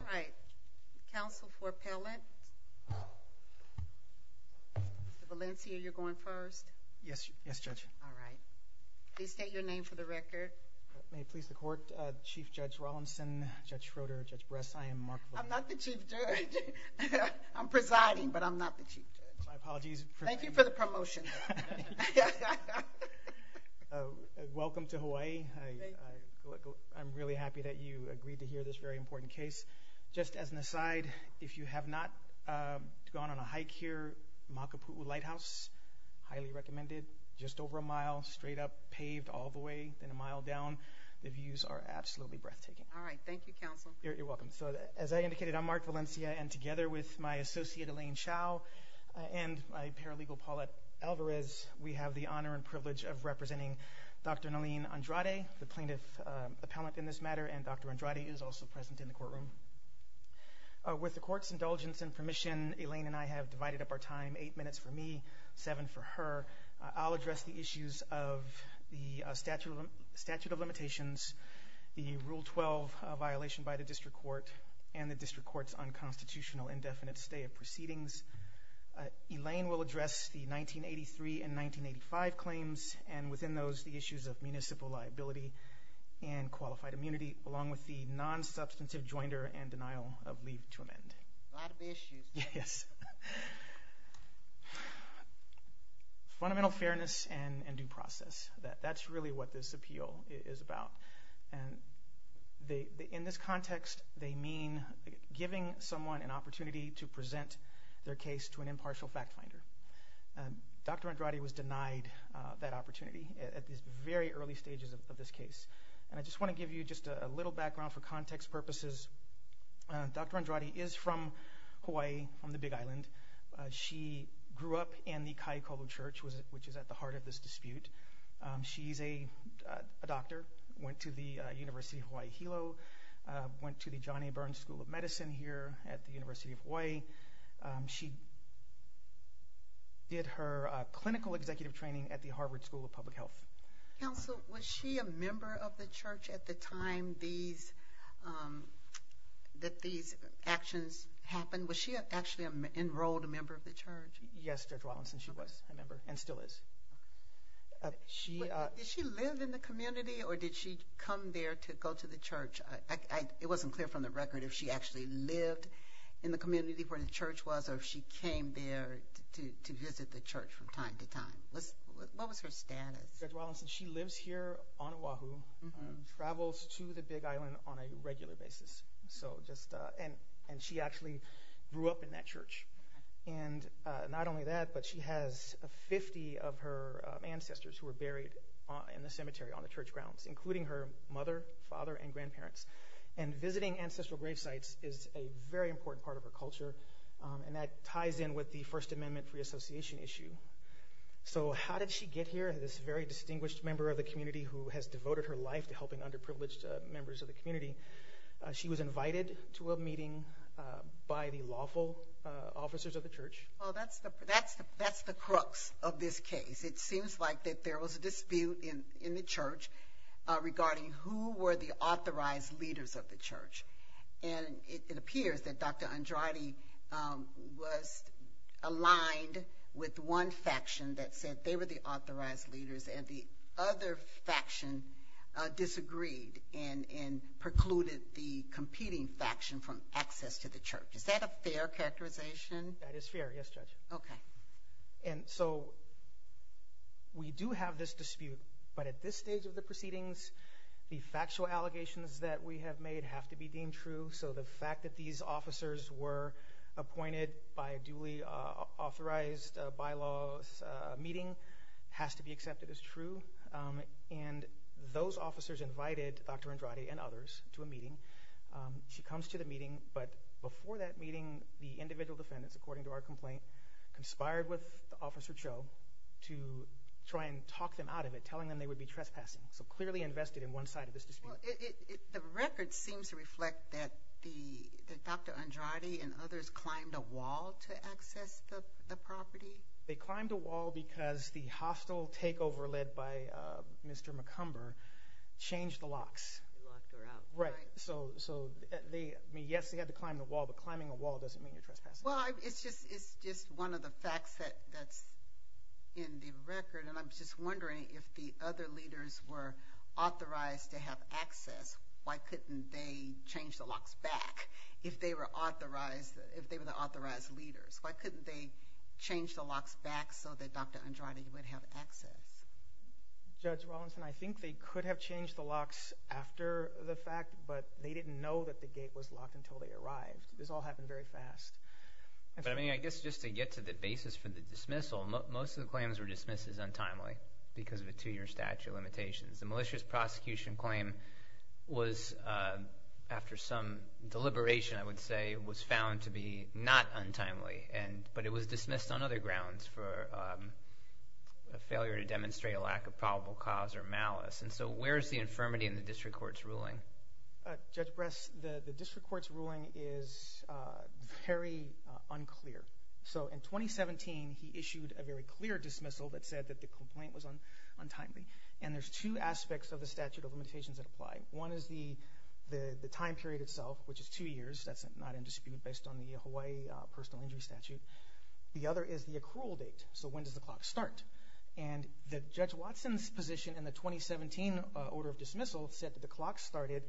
All right. Counsel for Pellant. Mr. Valencia, you're going first. Yes. Yes, Judge. All right. Please state your name for the record. May it please the court. Chief Judge Rawlinson, Judge Schroeder, Judge Bress, I am Mark. I'm not the chief judge. I'm presiding, but I'm not the chief judge. My apologies. Thank you for the promotion. Welcome to Hawaii. I'm really happy that you agreed to hear this very important case. Just as an aside, if you have not gone on a hike here, Makapu'u Lighthouse, highly recommended. Just over a mile straight up paved all the way in a mile down. The views are absolutely breathtaking. All right. Thank you, counsel. You're welcome. So as I indicated, I'm Mark Valencia. And together with my associate Elaine Chow and my paralegal Paulette Alvarez, we have the honor and privilege of representing Dr. Naleen Andrade, the plaintiff appellant in this matter. And Dr. Andrade is also present in the courtroom. With the court's indulgence and permission, Elaine and I have divided up our time, eight minutes for me, seven for her. I'll address the issues of the statute of statute of limitations, the Rule 12 violation by the district court and the district court's unconstitutional indefinite stay of proceedings. Elaine will address the 1983 and 1985 claims and within those the issues of municipal liability and qualified immunity, along with the nonsubstantive joinder and denial of leave to amend. A lot of issues. Yes. Fundamental fairness and due process. That that's really what this appeal is about. And in this context, they mean giving someone an opportunity to present their case to an impartial fact finder. And Dr. Andrade was denied that opportunity at the very early stages of this case. And I just want to give you just a little background for context purposes. Dr. Andrade is from Hawaii on the Big Island. She grew up in the Kaikoura Church, which is at the heart of this dispute. She's a doctor, went to the University of Hawaii Hilo, went to the Johnny Burns School of Medicine here at the University of Hawaii. She did her clinical executive training at the Harvard School of Public Health. Counsel, was she a member of the church at the time these that these actions happened? Was she actually enrolled a member of the church? Yes, Judge Wallinson, she was a member and still is. She did she live in the community or did she come there to go to the church? It wasn't clear from the record if she actually lived in the community where the church was or if she came there to visit the church from time to time. What was her status? Judge Wallinson, she lives here on Oahu, travels to the Big Island on a regular basis. So just and and she actually grew up in that church. And not only that, but she has 50 of her ancestors who were buried in the cemetery on the church grounds, including her mother, father and grandparents. And visiting ancestral grave sites is a very important part of her culture. And that ties in with the First Amendment Reassociation issue. So how did she get here? This very distinguished member of the community who has devoted her life to helping underprivileged members of the community. She was invited to a meeting by the lawful officers of the church. Well, that's that's that's the crux of this case. It seems like that there was a dispute in in the church regarding who were the authorized leaders of the church. And it appears that Dr. Jackson, that said they were the authorized leaders and the other faction disagreed and precluded the competing faction from access to the church. Is that a fair characterization? That is fair. Yes, Judge. OK. And so. We do have this dispute, but at this stage of the proceedings, the factual allegations that we have made have to be deemed true. So the fact that these officers were appointed by a duly authorized bylaws meeting has to be accepted as true. And those officers invited Dr. Andrade and others to a meeting. She comes to the meeting. But before that meeting, the individual defendants, according to our complaint, conspired with Officer Cho to try and talk them out of it, telling them they would be trespassing. So clearly invested in one side of this dispute. It the record seems to reflect that the Dr. Andrade and others climbed a wall to access the property. They climbed a wall because the hostile takeover led by Mr. McCumber changed the locks. Right. So so they mean, yes, they had to climb the wall, but climbing a wall doesn't mean you're trespassing. Well, it's just it's just one of the facts that that's in the record. And I'm just wondering if the other leaders were authorized to have access. Why couldn't they change the locks back if they were authorized, if they were the authorized leaders? Why couldn't they change the locks back so that Dr. Andrade would have access? Judge Wallinson, I think they could have changed the locks after the fact, but they didn't know that the gate was locked until they arrived. This all happened very fast. But I mean, I guess just to get to the basis for the dismissal, most of the claims were dismissed as untimely because of a two year statute of limitations. The malicious prosecution claim was after some deliberation, I would say, was found to be not untimely. And but it was dismissed on other grounds for a failure to demonstrate a lack of probable cause or malice. And so where is the infirmity in the district court's ruling? Judge Bress, the district court's ruling is very unclear. So in 2017, he issued a very clear dismissal that said that the complaint was on untimely. And there's two aspects of the statute of limitations that apply. One is the the time period itself, which is two years. That's not in dispute based on the Hawaii personal injury statute. The other is the accrual date. So when does the clock start? And the Judge Watson's position in the 2017 order of dismissal said that the clock started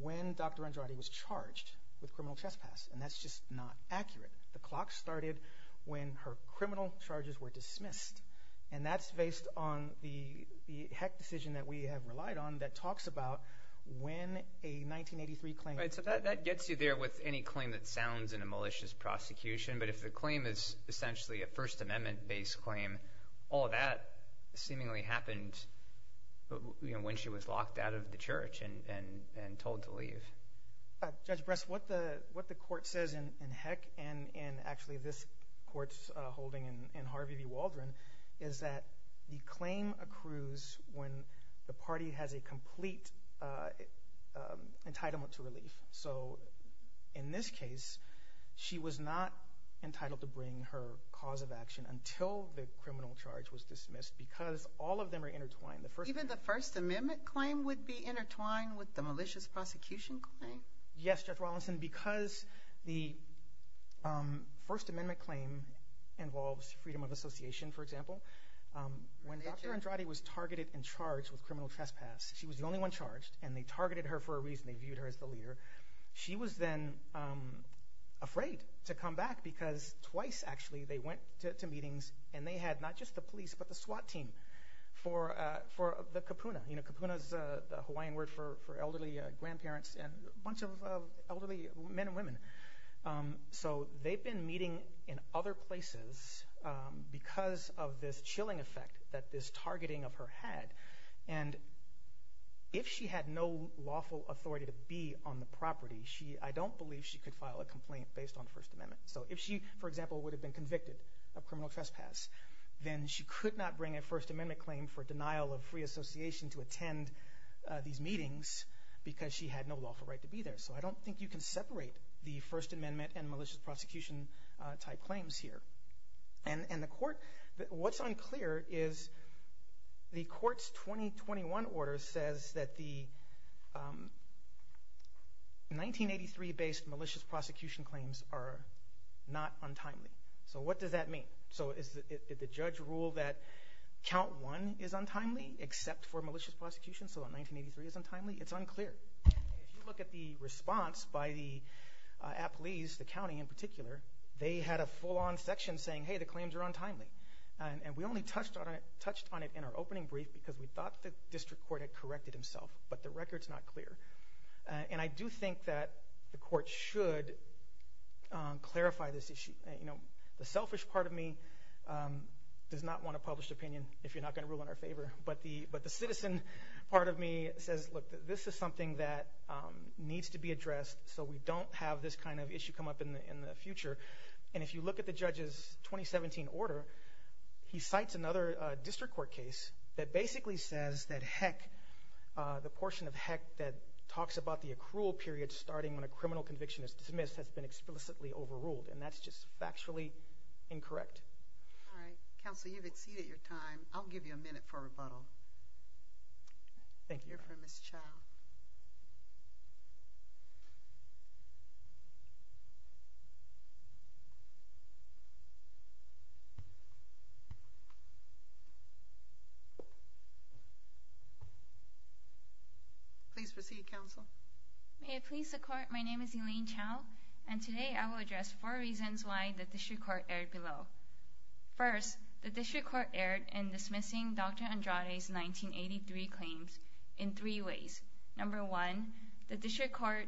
when Dr. Andrade was charged with criminal trespass. And that's just not accurate. The clock started when her criminal charges were dismissed. And that's based on the HEC decision that we have relied on that talks about when a 1983 claim. So that gets you there with any claim that sounds in a malicious prosecution. But if the claim is essentially a First Amendment based claim, all that seemingly happened when she was locked out of the church and told to leave. Judge Bress, what the what the court says in HEC and actually this court's holding in Harvey v. Waldron is that the claim accrues when the party has a complete entitlement to relief. So in this case, she was not entitled to bring her cause of action until the criminal charge was dismissed because all of them are intertwined. The first even the First Amendment claim would be intertwined with the malicious prosecution claim. Yes, Judge Rawlinson, because the First Amendment claim involves freedom of association, for example, when Dr. Andrade was targeted and charged with criminal trespass, she was the only one charged and they targeted her for a reason. They viewed her as the leader. She was then afraid to come back because twice, actually, they went to meetings and they had not just the police, but the SWAT team for for the Kupuna. You know, Kupuna is the Hawaiian word for elderly grandparents and a bunch of elderly men and women. So they've been meeting in other places because of this chilling effect that this targeting of her had. And if she had no lawful authority to be on the property, she I don't believe she could file a complaint based on the First Amendment. So if she, for example, would have been convicted of criminal trespass, then she could not bring a First Amendment claim for denial of free association to attend these meetings because she had no lawful right to be there. So I don't think you can separate the First Amendment and malicious prosecution type claims here. And the court, what's unclear is the court's 2021 order says that the 1983 based malicious prosecution claims are not untimely. So what does that mean? So is the judge rule that count one is untimely except for malicious prosecution? So in 1983 is untimely? It's unclear. If you look at the response by the appellees, the county in particular, they had a full on section saying, hey, the claims are untimely. And we only touched on it, touched on it in our opening brief because we thought the district court had corrected himself. But the record's not clear. And I do think that the court should clarify this issue. You know, the selfish part of me does not want a published opinion if you're not going to rule in our favor. But the but the citizen part of me says, look, this is something that needs to be addressed so we don't have this kind of issue come up in the future. And if you look at the judge's 2017 order, he cites another district court case that basically says that heck, the portion of heck that talks about the accrual period starting when a criminal conviction is dismissed has been explicitly overruled. And that's just factually incorrect. All right, counsel, you've exceeded your time. I'll give you a minute for rebuttal. Thank you for this child. Please proceed, counsel, may it please the court. My name is Elaine Chow, and today I will address four reasons why the district court aired below. First, the district court aired in dismissing Dr. Andrade's 1983 claims in three ways. Number one, the district court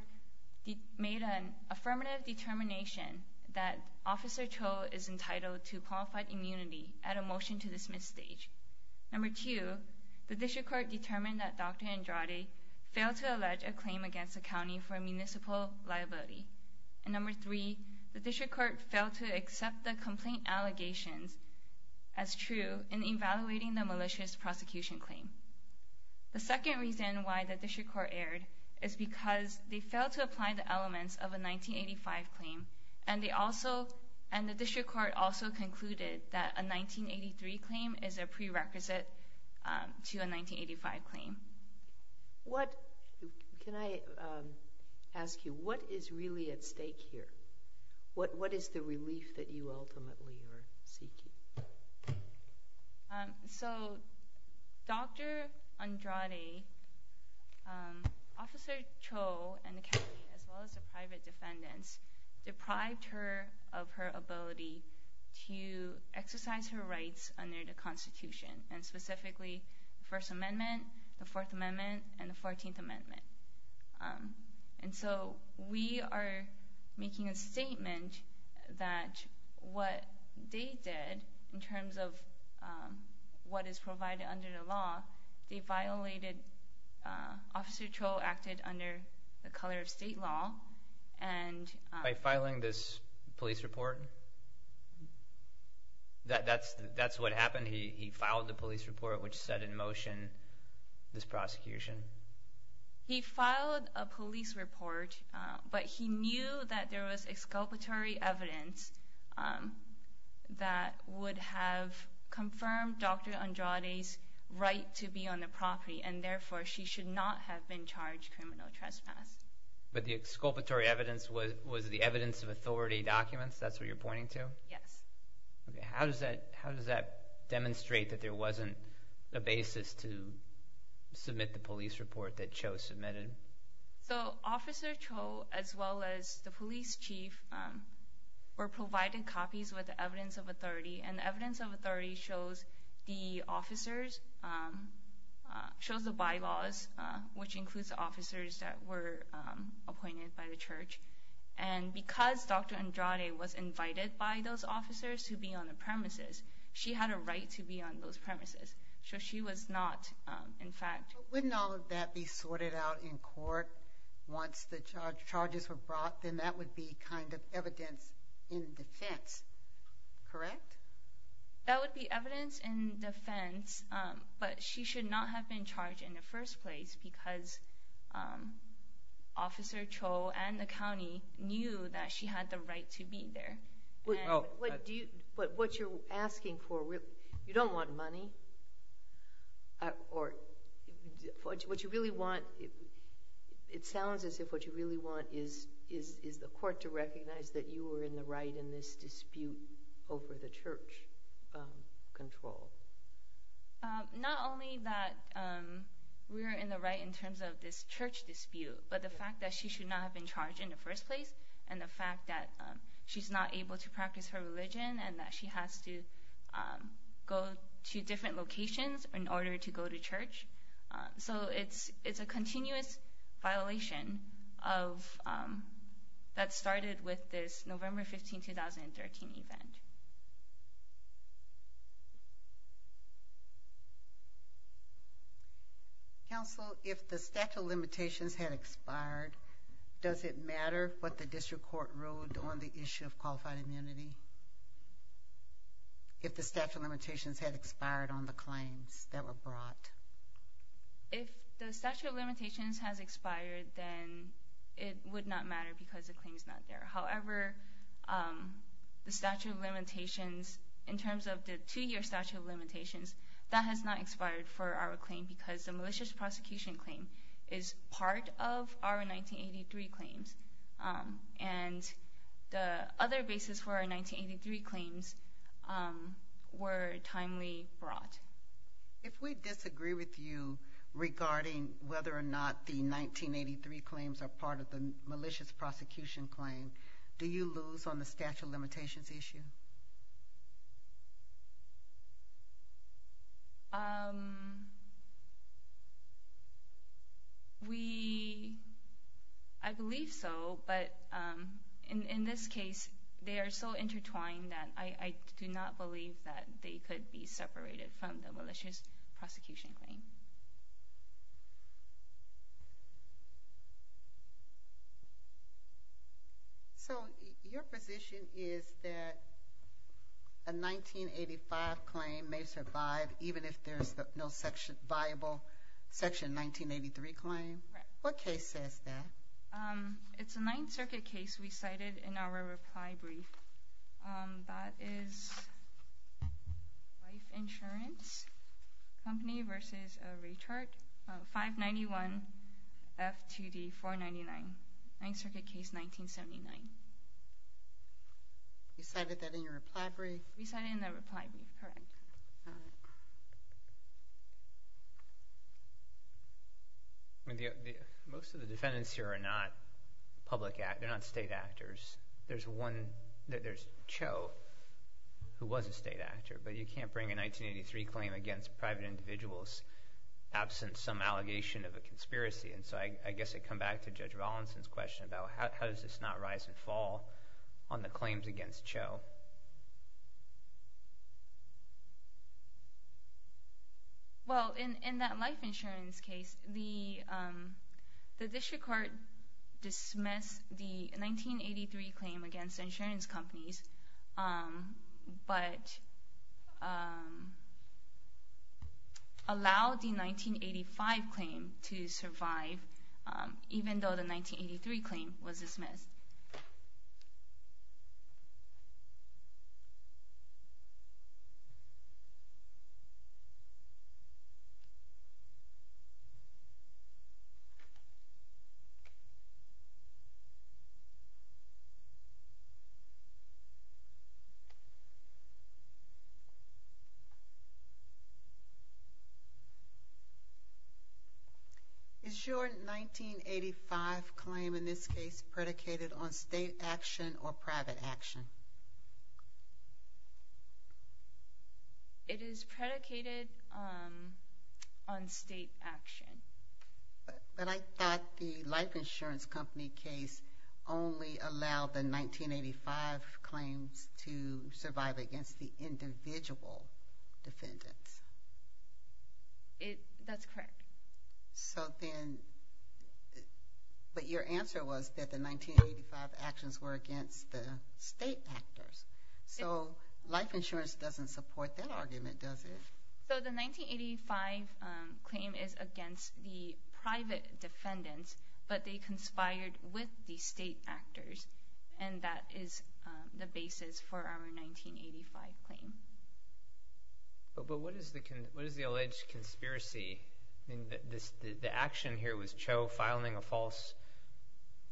made an affirmative determination that Officer Cho is entitled to qualified immunity at a motion to dismiss stage. Number two, the district court determined that Dr. Andrade failed to allege a claim against the county for municipal liability. And number three, the district court failed to accept the complaint allegations as true in evaluating the malicious prosecution claim. The second reason why the district court aired is because they failed to apply the elements of a 1985 claim. And they also and the district court also concluded that a 1983 claim is a prerequisite to a 1985 claim. What can I ask you, what is really at stake here? What what is the relief that you ultimately are seeking? So, Dr. Andrade, Officer Cho and the county, as well as the private defendants, deprived her of her ability to exercise her rights under the Constitution and specifically the First Amendment, the Fourth Amendment and the 14th Amendment. And that what they did in terms of what is provided under the law, they violated Officer Cho acted under the color of state law. And by filing this police report. That that's that's what happened. He filed the police report, which set in motion this prosecution. He filed a police report, but he knew that there was exculpatory evidence that would have confirmed Dr. Andrade's right to be on the property, and therefore she should not have been charged criminal trespass. But the exculpatory evidence was was the evidence of authority documents. That's what you're pointing to. Yes. How does that how does that demonstrate that there wasn't a basis to submit the police report that Cho submitted? So Officer Cho, as well as the police chief, were provided copies with the evidence of authority and evidence of authority shows the officers shows the bylaws, which includes officers that were appointed by the church. And because Dr. Andrade was invited by those officers to be on the premises, she had a right to be on those premises. So she was not. In fact, wouldn't all of that be sorted out in court once the charges were brought, then that would be kind of evidence in defense, correct? That would be evidence in defense, but she should not have been charged in the first place because Officer Cho and the county knew that she had the right to be there. Well, what do you what what you're asking for? You don't want money. Or what you really want. It sounds as if what you really want is is is the court to recognize that you were in the right in this dispute over the church control. Not only that, we were in the right in terms of this church dispute, but the fact that she should not have been charged in the first place and the fact that she's not able to practice her religion and that she has to go to different locations in order to go to church. So it's it's a continuous violation of that started with this November 15, 2013 event. Counsel, if the statute of limitations had expired, does it matter what the district court ruled on the issue of qualified immunity? If the statute of limitations had expired on the claims that were brought. If the statute of limitations has expired, then it would not matter because the claim is not there. However, the statute of limitations in terms of the two year statute of limitations that has not expired for our claim, because the malicious prosecution claim is part of our 1983 claims. And the other basis for our 1983 claims were timely brought. If we disagree with you regarding whether or not the 1983 claims are part of the malicious prosecution claim, do you lose on the statute of limitations issue? We, I believe so, but in this case, they are so intertwined that I do not believe that they could be separated from the malicious prosecution claim. So your position is that a 1985 claim may survive, even if there's no section viable section 1983 claim. What case says that it's a Ninth Circuit case? We cited in our reply brief that is Life Insurance Company versus a rechart of 591 F2D 499, Ninth Circuit case 1979. You cited that in your reply brief? We cited it in the reply brief, correct. I mean, most of the defendants here are not public, they're not state actors. There's one that there's Cho, who was a state actor, but you can't bring a 1983 claim against private individuals absent some allegation of a conspiracy. And so I guess I come back to Judge Rollinson's question about how does this not rise and fall on the claims against Cho? Well, in that Life Insurance case, the district court dismissed the 1983 claim against insurance companies, but allowed the 1985 claim to survive, even though the 1983 claim was dismissed. Is your 1985 claim, in this case, predicated on the 1983 claim against insurance companies? Is it predicated on state action or private action? It is predicated on state action. But I thought the Life Insurance Company case only allowed the 1985 claims to survive against the individual defendants. That's correct. So then, but your answer was that the 1985 actions were against the state actors. So Life Insurance doesn't support that argument, does it? So the 1985 claim is against the private defendants, but they conspired with the state actors, and that is the basis for our 1985 claim. But what is the alleged conspiracy? The action here was Cho filing a false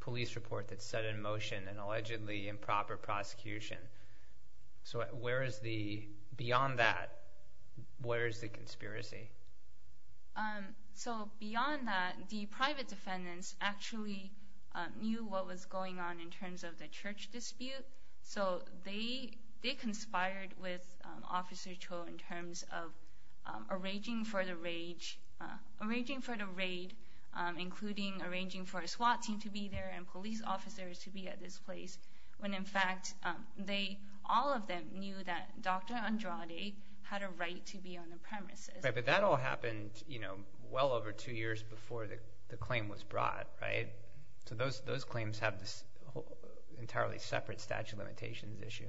police report that set in motion an allegedly improper prosecution. So where is the, beyond that, where is the conspiracy? So beyond that, the private defendants actually knew what was going on in terms of the church dispute. So they conspired with Officer Cho in terms of arranging for the raid, including arranging for a SWAT team to be there and police officers to be at this place, when in fact, all of them knew that Dr. Andrade had a right to be on the premises. But that all happened well over two years before the claim was brought, right? So those claims have this entirely separate statute of limitations issue.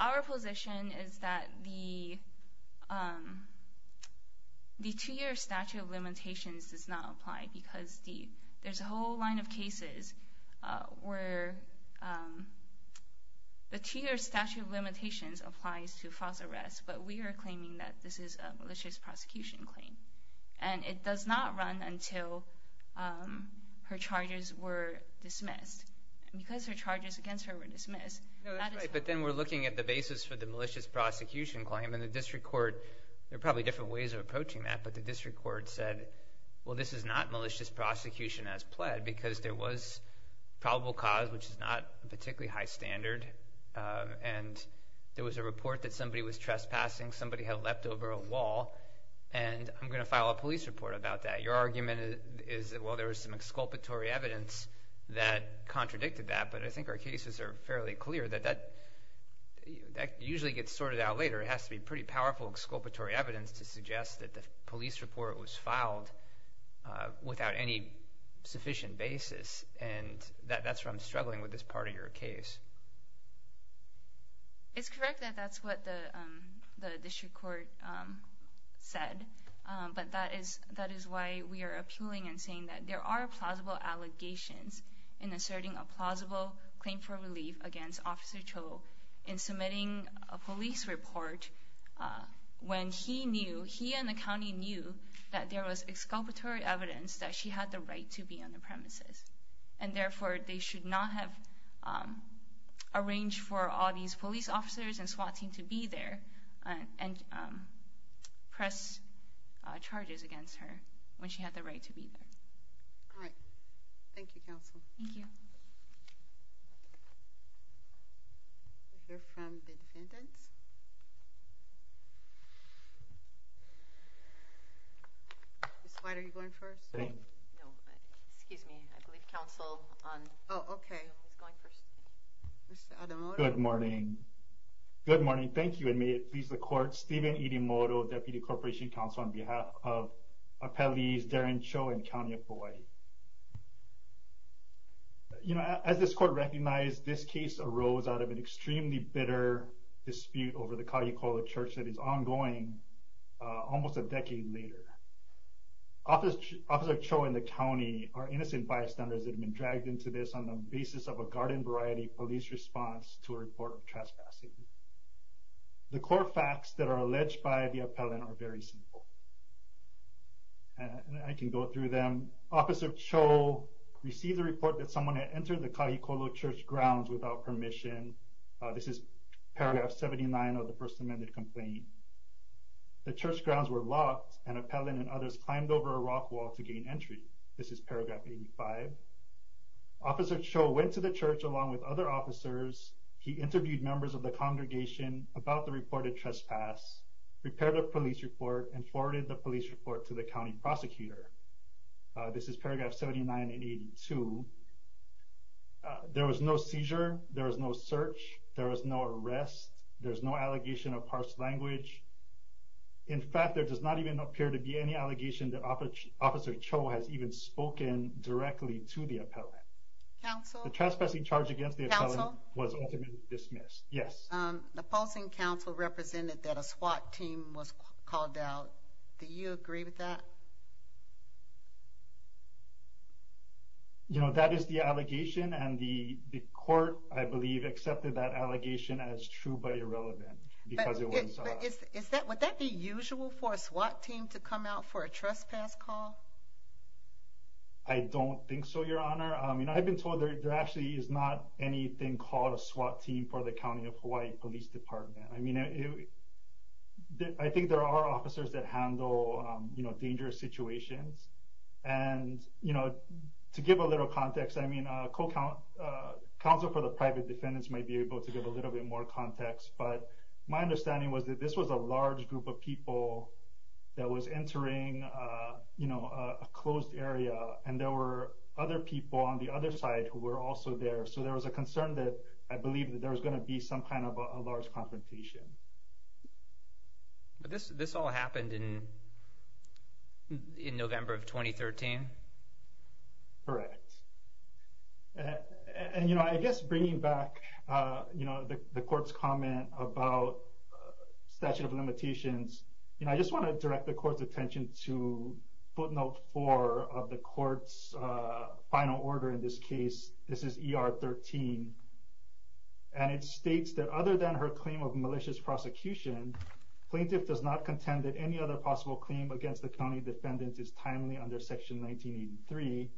Our position is that the two-year statute of limitations does not apply because there's a whole line of cases where the two-year statute of limitations applies to false arrests, but we are claiming that this is a malicious prosecution claim. And it does not run until her charges were dismissed. And because her charges against her were dismissed, that is fine. No, that's right. But then we're looking at the basis for the malicious prosecution claim. And the district court, there are probably different ways of approaching that, but the district court said, well, this is not malicious prosecution as pled because there was probable cause, which is not a particularly high standard. And there was a report that somebody was trespassing. Somebody had leapt over a wall. And I'm going to file a police report about that. Your argument is that, well, there was some exculpatory evidence that contradicted that. But I think our cases are fairly clear that that usually gets sorted out later. It has to be pretty powerful exculpatory evidence to suggest that the police report was filed without any sufficient basis. And that's where I'm struggling with this part of your case. It's correct that that's what the district court said, but that is why we are appealing and saying that there are plausible allegations in asserting a plausible claim for relief against Officer Cho in submitting a police report when he knew, he and the county knew that there was exculpatory evidence that she had the right to be on the premises. And therefore, they should not have arranged for all these police officers and SWAT team to be there and press charges against her when she had the right to be there. All right. Thank you, counsel. Thank you. We'll hear from the defendants. Ms. White, are you going first? No, excuse me. I believe counsel on... Oh, okay. Good morning. Good morning. Thank you. And may it please the court, Stephen Irimoto, Deputy Corporation Counsel on behalf of Appellees Darren Cho and County of Hawai'i. You know, as this court recognized, this case arose out of an extremely bitter dispute over the Kāʻi Koala Church that is ongoing almost a decade later. Officer Cho and the county are innocent bystanders that have been dragged into this on the basis of a garden variety police response to a report of traspassing. The core facts that are alleged by the appellant are very simple. And I can go through them. Officer Cho received a report that someone had entered the Kāʻi Koala Church grounds without permission. This is paragraph 79 of the first amended complaint. The church grounds were locked and appellant and others climbed over a rock wall to gain entry. This is paragraph 85. Officer Cho went to the church along with other officers. He interviewed members of the congregation about the reported trespass, prepared a police report and forwarded the police report to the county prosecutor. This is paragraph 79 and 82. There was no seizure. There was no search. There was no arrest. There's no allegation of harsh language. In fact, there does not even appear to be any allegation that Officer Cho has even spoken directly to the appellant. The trespassing charge against the appellant was ultimately dismissed. Yes. The opposing counsel represented that a SWAT team was called out. Do you agree with that? You know, that is the allegation and the court, I believe, accepted that allegation as true but irrelevant because it was. Would that be usual for a SWAT team to come out for a trespass call? I don't think so, Your Honor. I've been told there actually is not anything called a SWAT team for the County of Hawaii Police Department. I mean, I think there are officers that handle, you know, dangerous situations. And, you know, to give a little context, I mean, counsel for the private defendants might be able to give a little bit more context. But my understanding was that this was a large group of people that was entering, you know, a closed area. And there were other people on the other side who were also there. So there was a concern that I believe that there was going to be some kind of a large confrontation. But this all happened in November of 2013? Correct. And, you know, I guess bringing back, you know, the court's comment about statute of limitations, you know, I just want to direct the court's attention to footnote four of the court's final order in this case. This is ER 13. And it states that other than her claim of malicious prosecution, plaintiff does not contend that any other possible claim against the county defendant is timely under section 1983.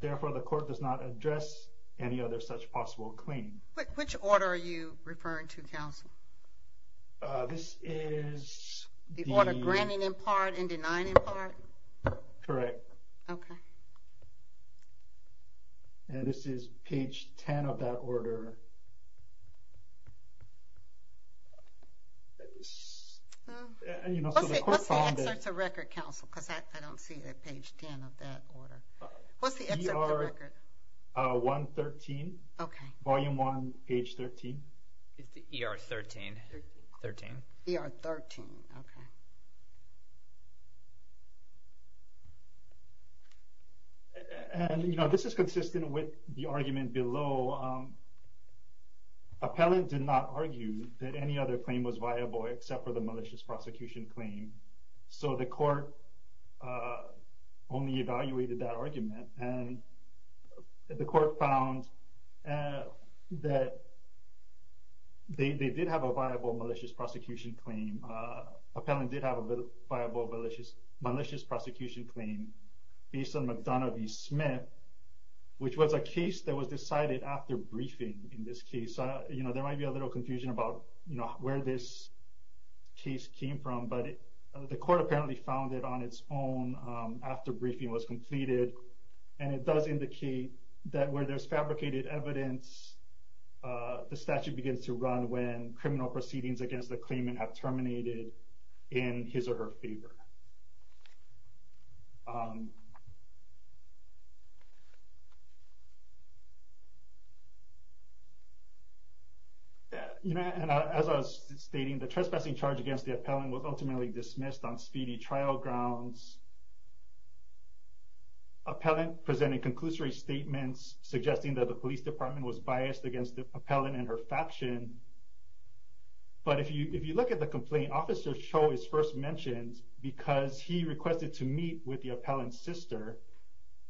Therefore, the court does not address any other such possible claim. Which order are you referring to, counsel? This is the order granting in part and denying in part? Correct. Okay. And this is page 10 of that order. And, you know, so the court found that... Let's say that's a record, counsel, because I don't see that page 10 of that order. What's the excerpt of the record? ER 113. Okay. Volume 1, page 13. It's the ER 13. 13. ER 13. Okay. And, you know, this is consistent with the argument below. Appellant did not argue that any other claim was viable except for the malicious prosecution claim. So the court only evaluated that argument. And the court found that they did have a viable malicious prosecution claim. Appellant did have a viable malicious prosecution claim based on McDonough v. Smith, which was a case that was decided after briefing in this case. You know, there might be a little confusion about where this case came from. The court apparently found it on its own after briefing was completed. And it does indicate that where there's fabricated evidence, the statute begins to run when criminal proceedings against the claimant have terminated in his or her favor. You know, and as I was stating, the trespassing charge against the appellant was ultimately dismissed on speedy trial grounds. Appellant presented conclusory statements suggesting that the police department was biased against the appellant and her faction. But if you look at the complaint, Officer Cho is first mentioned because he was the requested to meet with the appellant's sister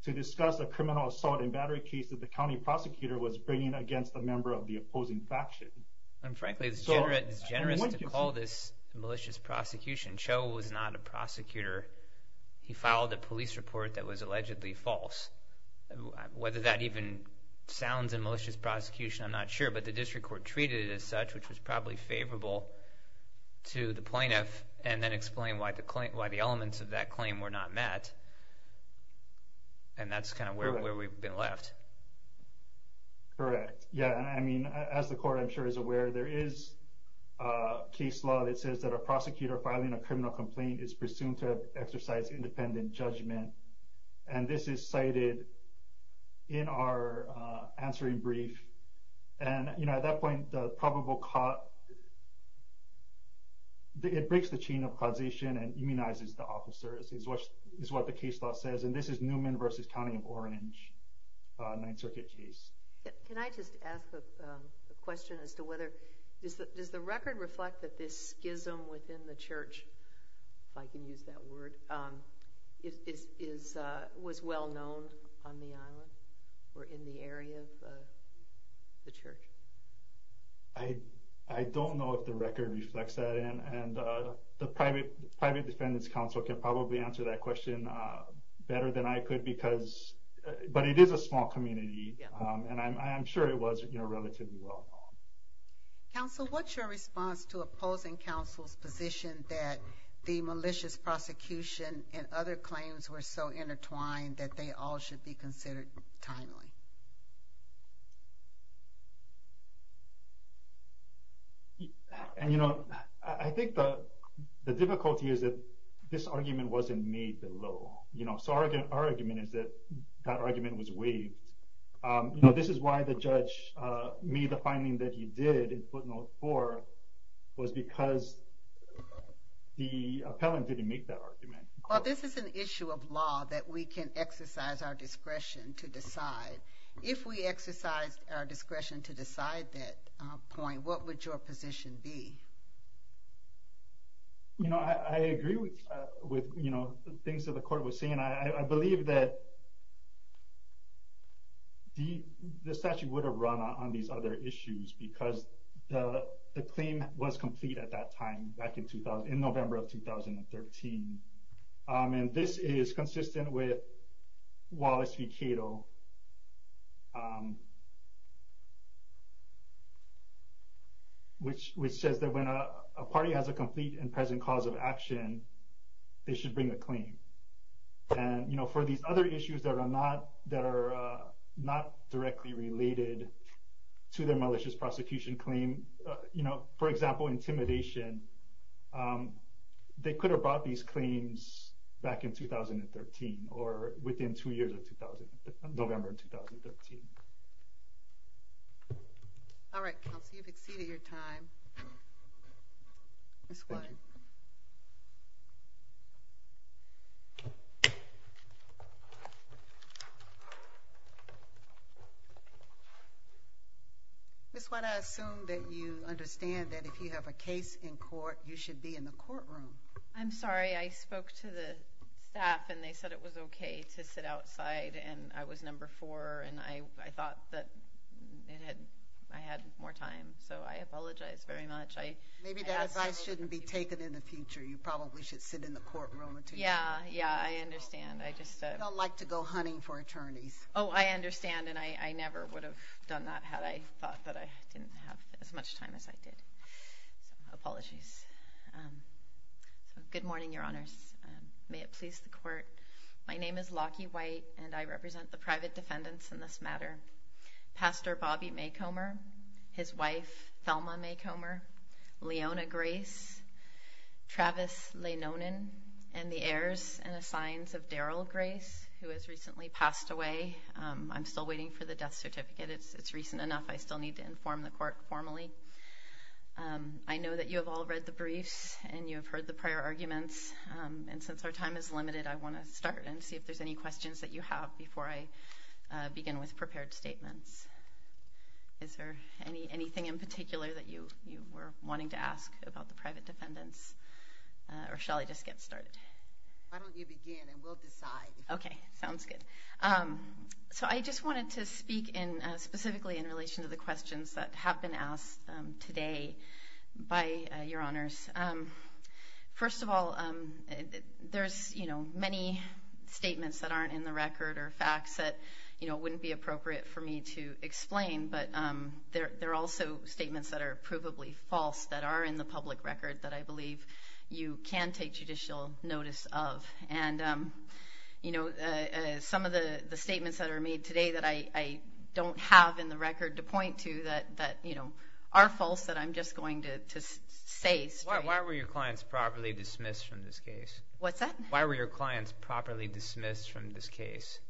to discuss a criminal assault and battery case that the county prosecutor was bringing against a member of the opposing faction. And frankly, it's generous to call this malicious prosecution. Cho was not a prosecutor. He filed a police report that was allegedly false. Whether that even sounds in malicious prosecution, I'm not sure. But the district court treated it as such, which was probably favorable to the plaintiff and then explain why the claim, why the elements of that claim were not met. And that's kind of where we've been left. Correct. Yeah. And I mean, as the court, I'm sure is aware there is a case law that says that a prosecutor filing a criminal complaint is presumed to exercise independent judgment. And this is cited in our answering brief. And at that point, it breaks the chain of causation and immunizes the officers is what the case law says. And this is Newman versus County of Orange Ninth Circuit case. Can I just ask a question as to whether, does the record reflect that this schism within the church, if I can use that word, was well known on the island or in the area? The church. I, I don't know if the record reflects that in and the private, private defendant's counsel can probably answer that question better than I could because, but it is a small community and I'm sure it was, you know, relatively well. Counsel, what's your response to opposing counsel's position that the malicious prosecution and other claims were so intertwined that they all should be considered timely? And, you know, I think the, the difficulty is that this argument wasn't made the law, you know, so our argument is that that argument was waived. You know, this is why the judge made the finding that he did in footnote four was because the appellant didn't make that argument. Well, this is an issue of law that we can exercise our discretion to decide. If we exercise our discretion to decide that point, what would your position be? You know, I agree with, with, you know, the things that the court was saying. I believe that the statute would have run on these other issues because the claim was complete at that time back in 2000, in November of 2013. And this is consistent with Wallace v. Cato, which says that when a party has a complete and present cause of action, they should bring a claim. And, you know, for these other issues that are not, that are not directly related to their malicious prosecution claim, you know, for example, intimidation, they could have brought these claims back in 2013 or within two years of 2000, November, 2013. All right, counsel. You've exceeded your time. Ms. White. Ms. White, I assume that you understand that if you have a case in court, you should be in the courtroom. I'm sorry. I spoke to the staff, and they said it was okay to sit outside, and I was number four, and I thought that it had, I had more time. So I apologize very much. I— Maybe that advice shouldn't be taken in the future. You probably should sit in the courtroom until— Yeah, yeah, I understand. I just— Don't like to go hunting for attorneys. Oh, I understand, and I never would have done that had I thought that I didn't have as much time as I did. Apologies. Good morning, Your Honors. May it please the court. My name is Lockie White, and I represent the private defendants in this matter. Pastor Bobby Maycomber, his wife, Thelma Maycomber, Leona Grace, Travis Leinonen, and the heirs and assigns of Daryl Grace, who has recently passed away. I'm still waiting for the death certificate. It's recent enough. I still need to inform the court formally. I know that you have all read the briefs and you have heard the prior arguments, and since our time is limited, I want to start and see if there's any questions that you have before I begin with prepared statements. Is there anything in particular that you were wanting to ask about the private defendants, or shall I just get started? Why don't you begin, and we'll decide. Okay, sounds good. So I just wanted to speak in, specifically in relation to the questions that have been asked today by your honors. First of all, there's many statements that aren't in the record or facts that wouldn't be appropriate for me to explain, but there are also statements that are provably false that are in the public record that I believe you can take judicial notice of. And some of the statements that are made today that I don't have in the record to point to that are false that I'm just going to say straight. Why were your clients properly dismissed from this case? What's that? Why were your clients properly dismissed from this case?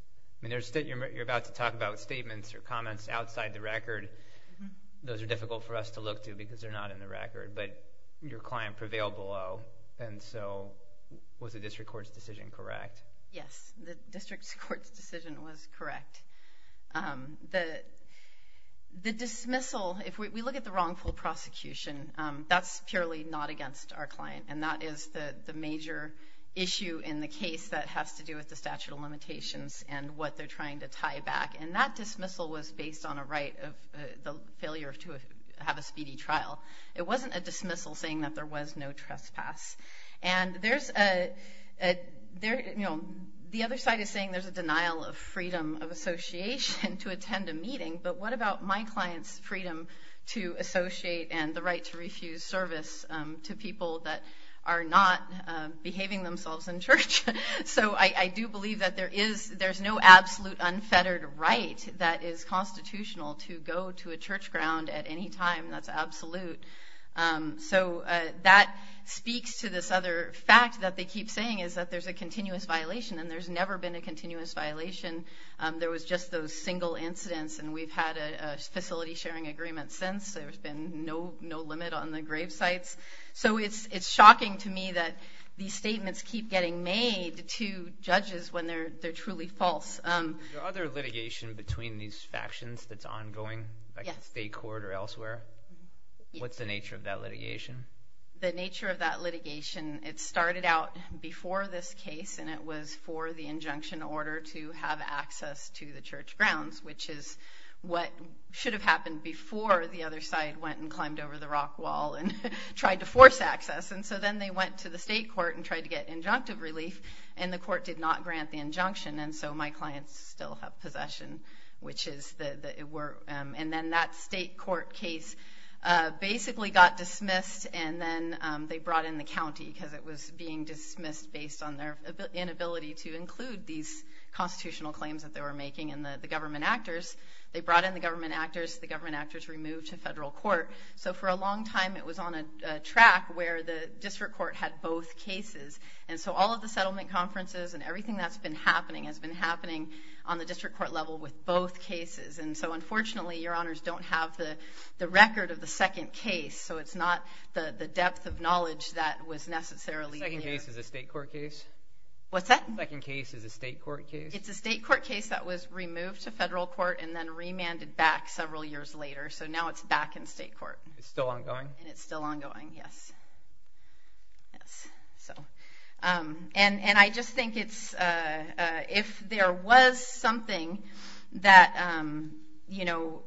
You're about to talk about statements or comments outside the record. Those are difficult for us to look to because they're not in the record, but your client prevailed below, and so was the district court's decision correct? Yes, the district court's decision was correct. The dismissal, if we look at the wrongful prosecution, that's purely not against our client, and that is the major issue in the case that has to do with the statute of limitations and what they're trying to tie back. And that dismissal was based on a right of the failure to have a speedy trial. It wasn't a dismissal saying that there was no trespass. And the other side is saying there's a denial of freedom of association to attend a meeting, but what about my client's freedom to associate and the right to refuse service to people that are not behaving themselves in church? So I do believe that there's no absolute unfettered right that is constitutional to go to a church ground at any time that's absolute. So that speaks to this other fact that they keep saying is that there's a continuous violation, and there's never been a continuous violation. There was just those single incidents, and we've had a facility-sharing agreement since. There's been no limit on the grave sites. So it's shocking to me that these statements keep getting made to judges when they're truly false. Is there other litigation between these factions that's ongoing, like the state court or elsewhere? What's the nature of that litigation? The nature of that litigation, it started out before this case, and it was for the injunction order to have access to the church grounds, which is what should have happened before the other side went and climbed over the rock wall and tried to force access. And so then they went to the state court and tried to get injunctive relief, and the court did not grant the injunction. And so my clients still have possession. And then that state court case basically got dismissed, and then they brought in the county because it was being dismissed based on their inability to include these constitutional claims that they were making. And the government actors, they brought in the government actors. The government actors were moved to federal court. So for a long time, it was on a track where the district court had both cases. And so all of the settlement conferences and everything that's been happening has been happening on the district court level with both cases. And so unfortunately, your honors don't have the record of the second case. So it's not the depth of knowledge that was necessarily there. The second case is a state court case? What's that? The second case is a state court case? It's a state court case that was removed to federal court and then remanded back several years later. So now it's back in state court. It's still ongoing? And it's still ongoing, yes. And I just think it's, if there was something that, you know,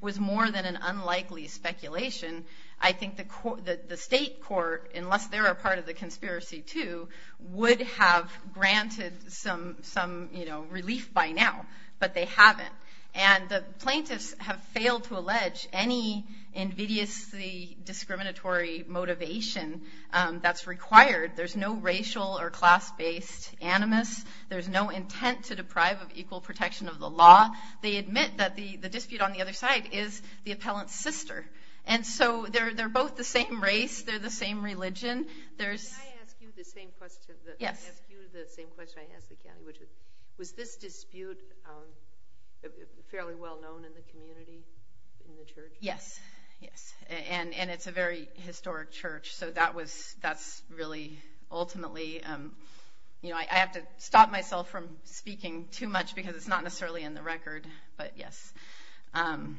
was more than an unlikely speculation, I think the state court, unless they're a part of the conspiracy too, would have granted some, you know, relief by now. But they haven't. And the plaintiffs have failed to allege any invidiously discriminatory motivation that's required. There's no racial or class-based animus. There's no intent to deprive of equal protection of the law. They admit that the dispute on the other side is the appellant's sister. And so they're both the same race. They're the same religion. Can I ask you the same question? Yes. Was this dispute fairly well known in the community, in the church? Yes. Yes. And it's a very historic church. So that was, that's really ultimately, you know, I have to stop myself from speaking too much because it's not necessarily in the record. But yes. And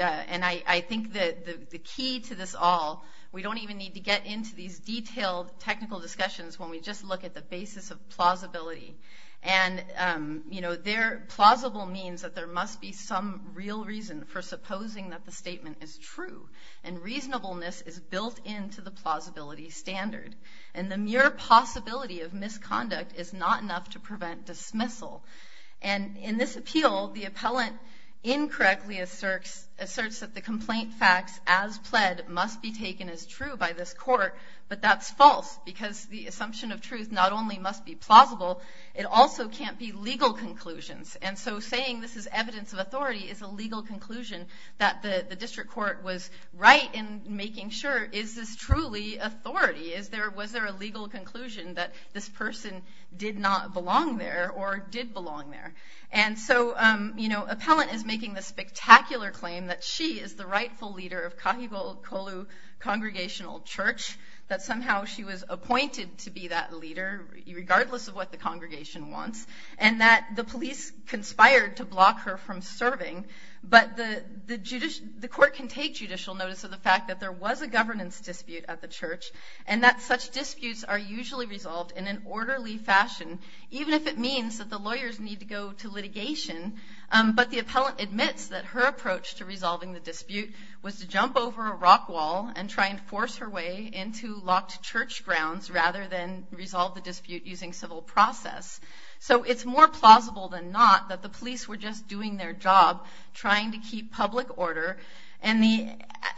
I think that the key to this all, we don't even need to get into these detailed technical discussions when we just look at the basis of plausibility. And, you know, plausible means that there must be some real reason for supposing that the statement is true. And reasonableness is built into the plausibility standard. And the mere possibility of misconduct is not enough to prevent dismissal. And in this appeal, the appellant incorrectly asserts that the complaint facts as pled must be taken as true by this court. But that's false because the assumption of truth not only must be plausible, it also can't be legal conclusions. And so saying this is evidence of authority is a legal conclusion that the district court was right in making sure, is this truly authority? Is there, was there a legal conclusion that this person did not belong there or did belong there? And so, you know, appellant is making the spectacular claim that she is the rightful leader of Kahikolu Congregational Church, that somehow she was appointed to be that leader, regardless of what the congregation wants, and that the police conspired to block her from serving. But the court can take judicial notice of the fact that there was a governance dispute at the church and that such disputes are usually resolved in an orderly fashion, even if it means that the lawyers need to go to litigation. But the appellant admits that her approach to resolving the dispute was to jump over a rock wall and try and force her way into locked church grounds rather than resolve the dispute using civil process. So it's more plausible than not that the police were just doing their job trying to keep public order. And the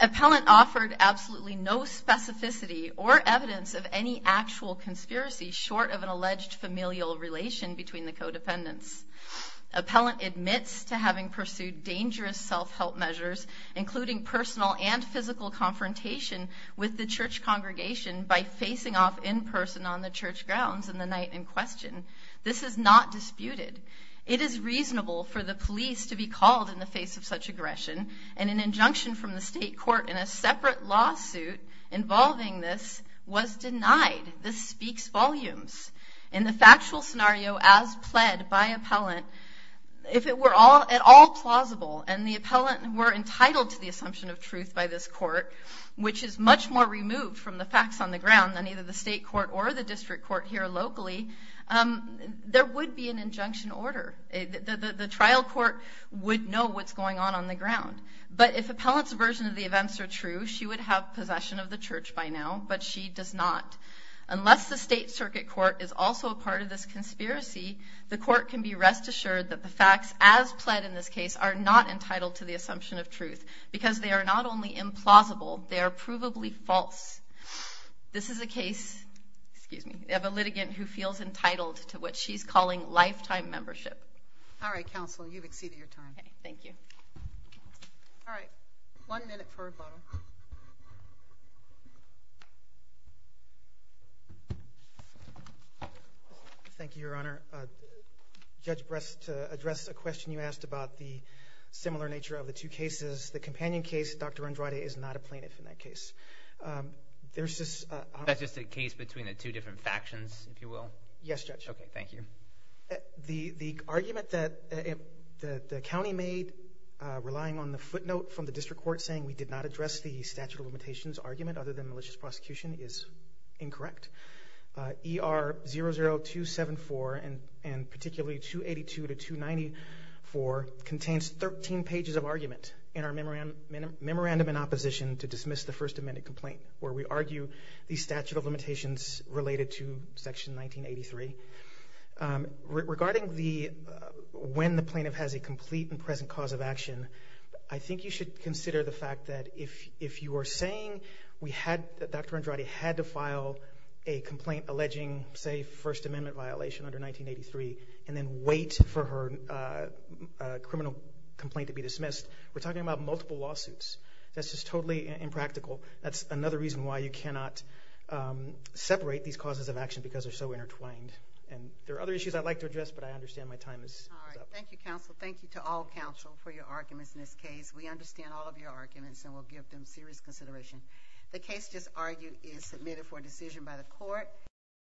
appellant offered absolutely no specificity or evidence of any actual conspiracy short of an alleged familial relation between the codependents. Appellant admits to having pursued dangerous self-help measures, including personal and physical confrontation with the church congregation by facing off in person on the church grounds in the night in question. This is not disputed. It is reasonable for the police to be called in the face of such aggression. And an injunction from the state court in a separate lawsuit involving this was denied. This speaks volumes. In the factual scenario as pled by appellant, if it were at all plausible and the appellant were entitled to the assumption of truth by this court, which is much more removed from the facts on the ground than either the state court or the district court here locally, there would be an injunction order. The trial court would know what's going on on the ground. But if appellant's version of the events are true, she would have possession of the church by now. But she does not. Unless the state circuit court is also a part of this conspiracy, the court can be rest assured that the facts as pled in this case are not entitled to the assumption of truth because they are not only implausible, they are provably false. This is a case, excuse me, of a litigant who feels entitled to what she's calling lifetime membership. All right, counsel, you've exceeded your time. Thank you. All right, one minute for a vote. Thank you, Your Honor. Judge Brest, to address a question you asked about the similar nature of the two cases, the companion case, Dr. Andrade is not a plaintiff in that case. There's just... That's just a case between the two different factions, if you will? Yes, Judge. Okay, thank you. The argument that the county made relying on the footnote from the district court saying we did not address the statute of limitations argument other than malicious prosecution is incorrect. ER00274 and particularly 282 to 294 contains 13 pages of argument in our memorandum in opposition to dismiss the First Amendment complaint where we argue the statute of limitations related to section 1983. Regarding when the plaintiff has a complete and present cause of action, I think you should consider the fact that if you are saying that Dr. Andrade had to file a complaint alleging, say, First Amendment violation under 1983 and then wait for her criminal complaint to be dismissed, we're talking about multiple lawsuits. That's just totally impractical. That's another reason why you cannot separate these causes of action because they're so intertwined. And there are other issues I'd like to address, but I understand my time is up. All right, thank you, counsel. Thank you to all counsel for your arguments in this case. We understand all of your arguments and will give them serious consideration. The case just argued is submitted for decision by the court.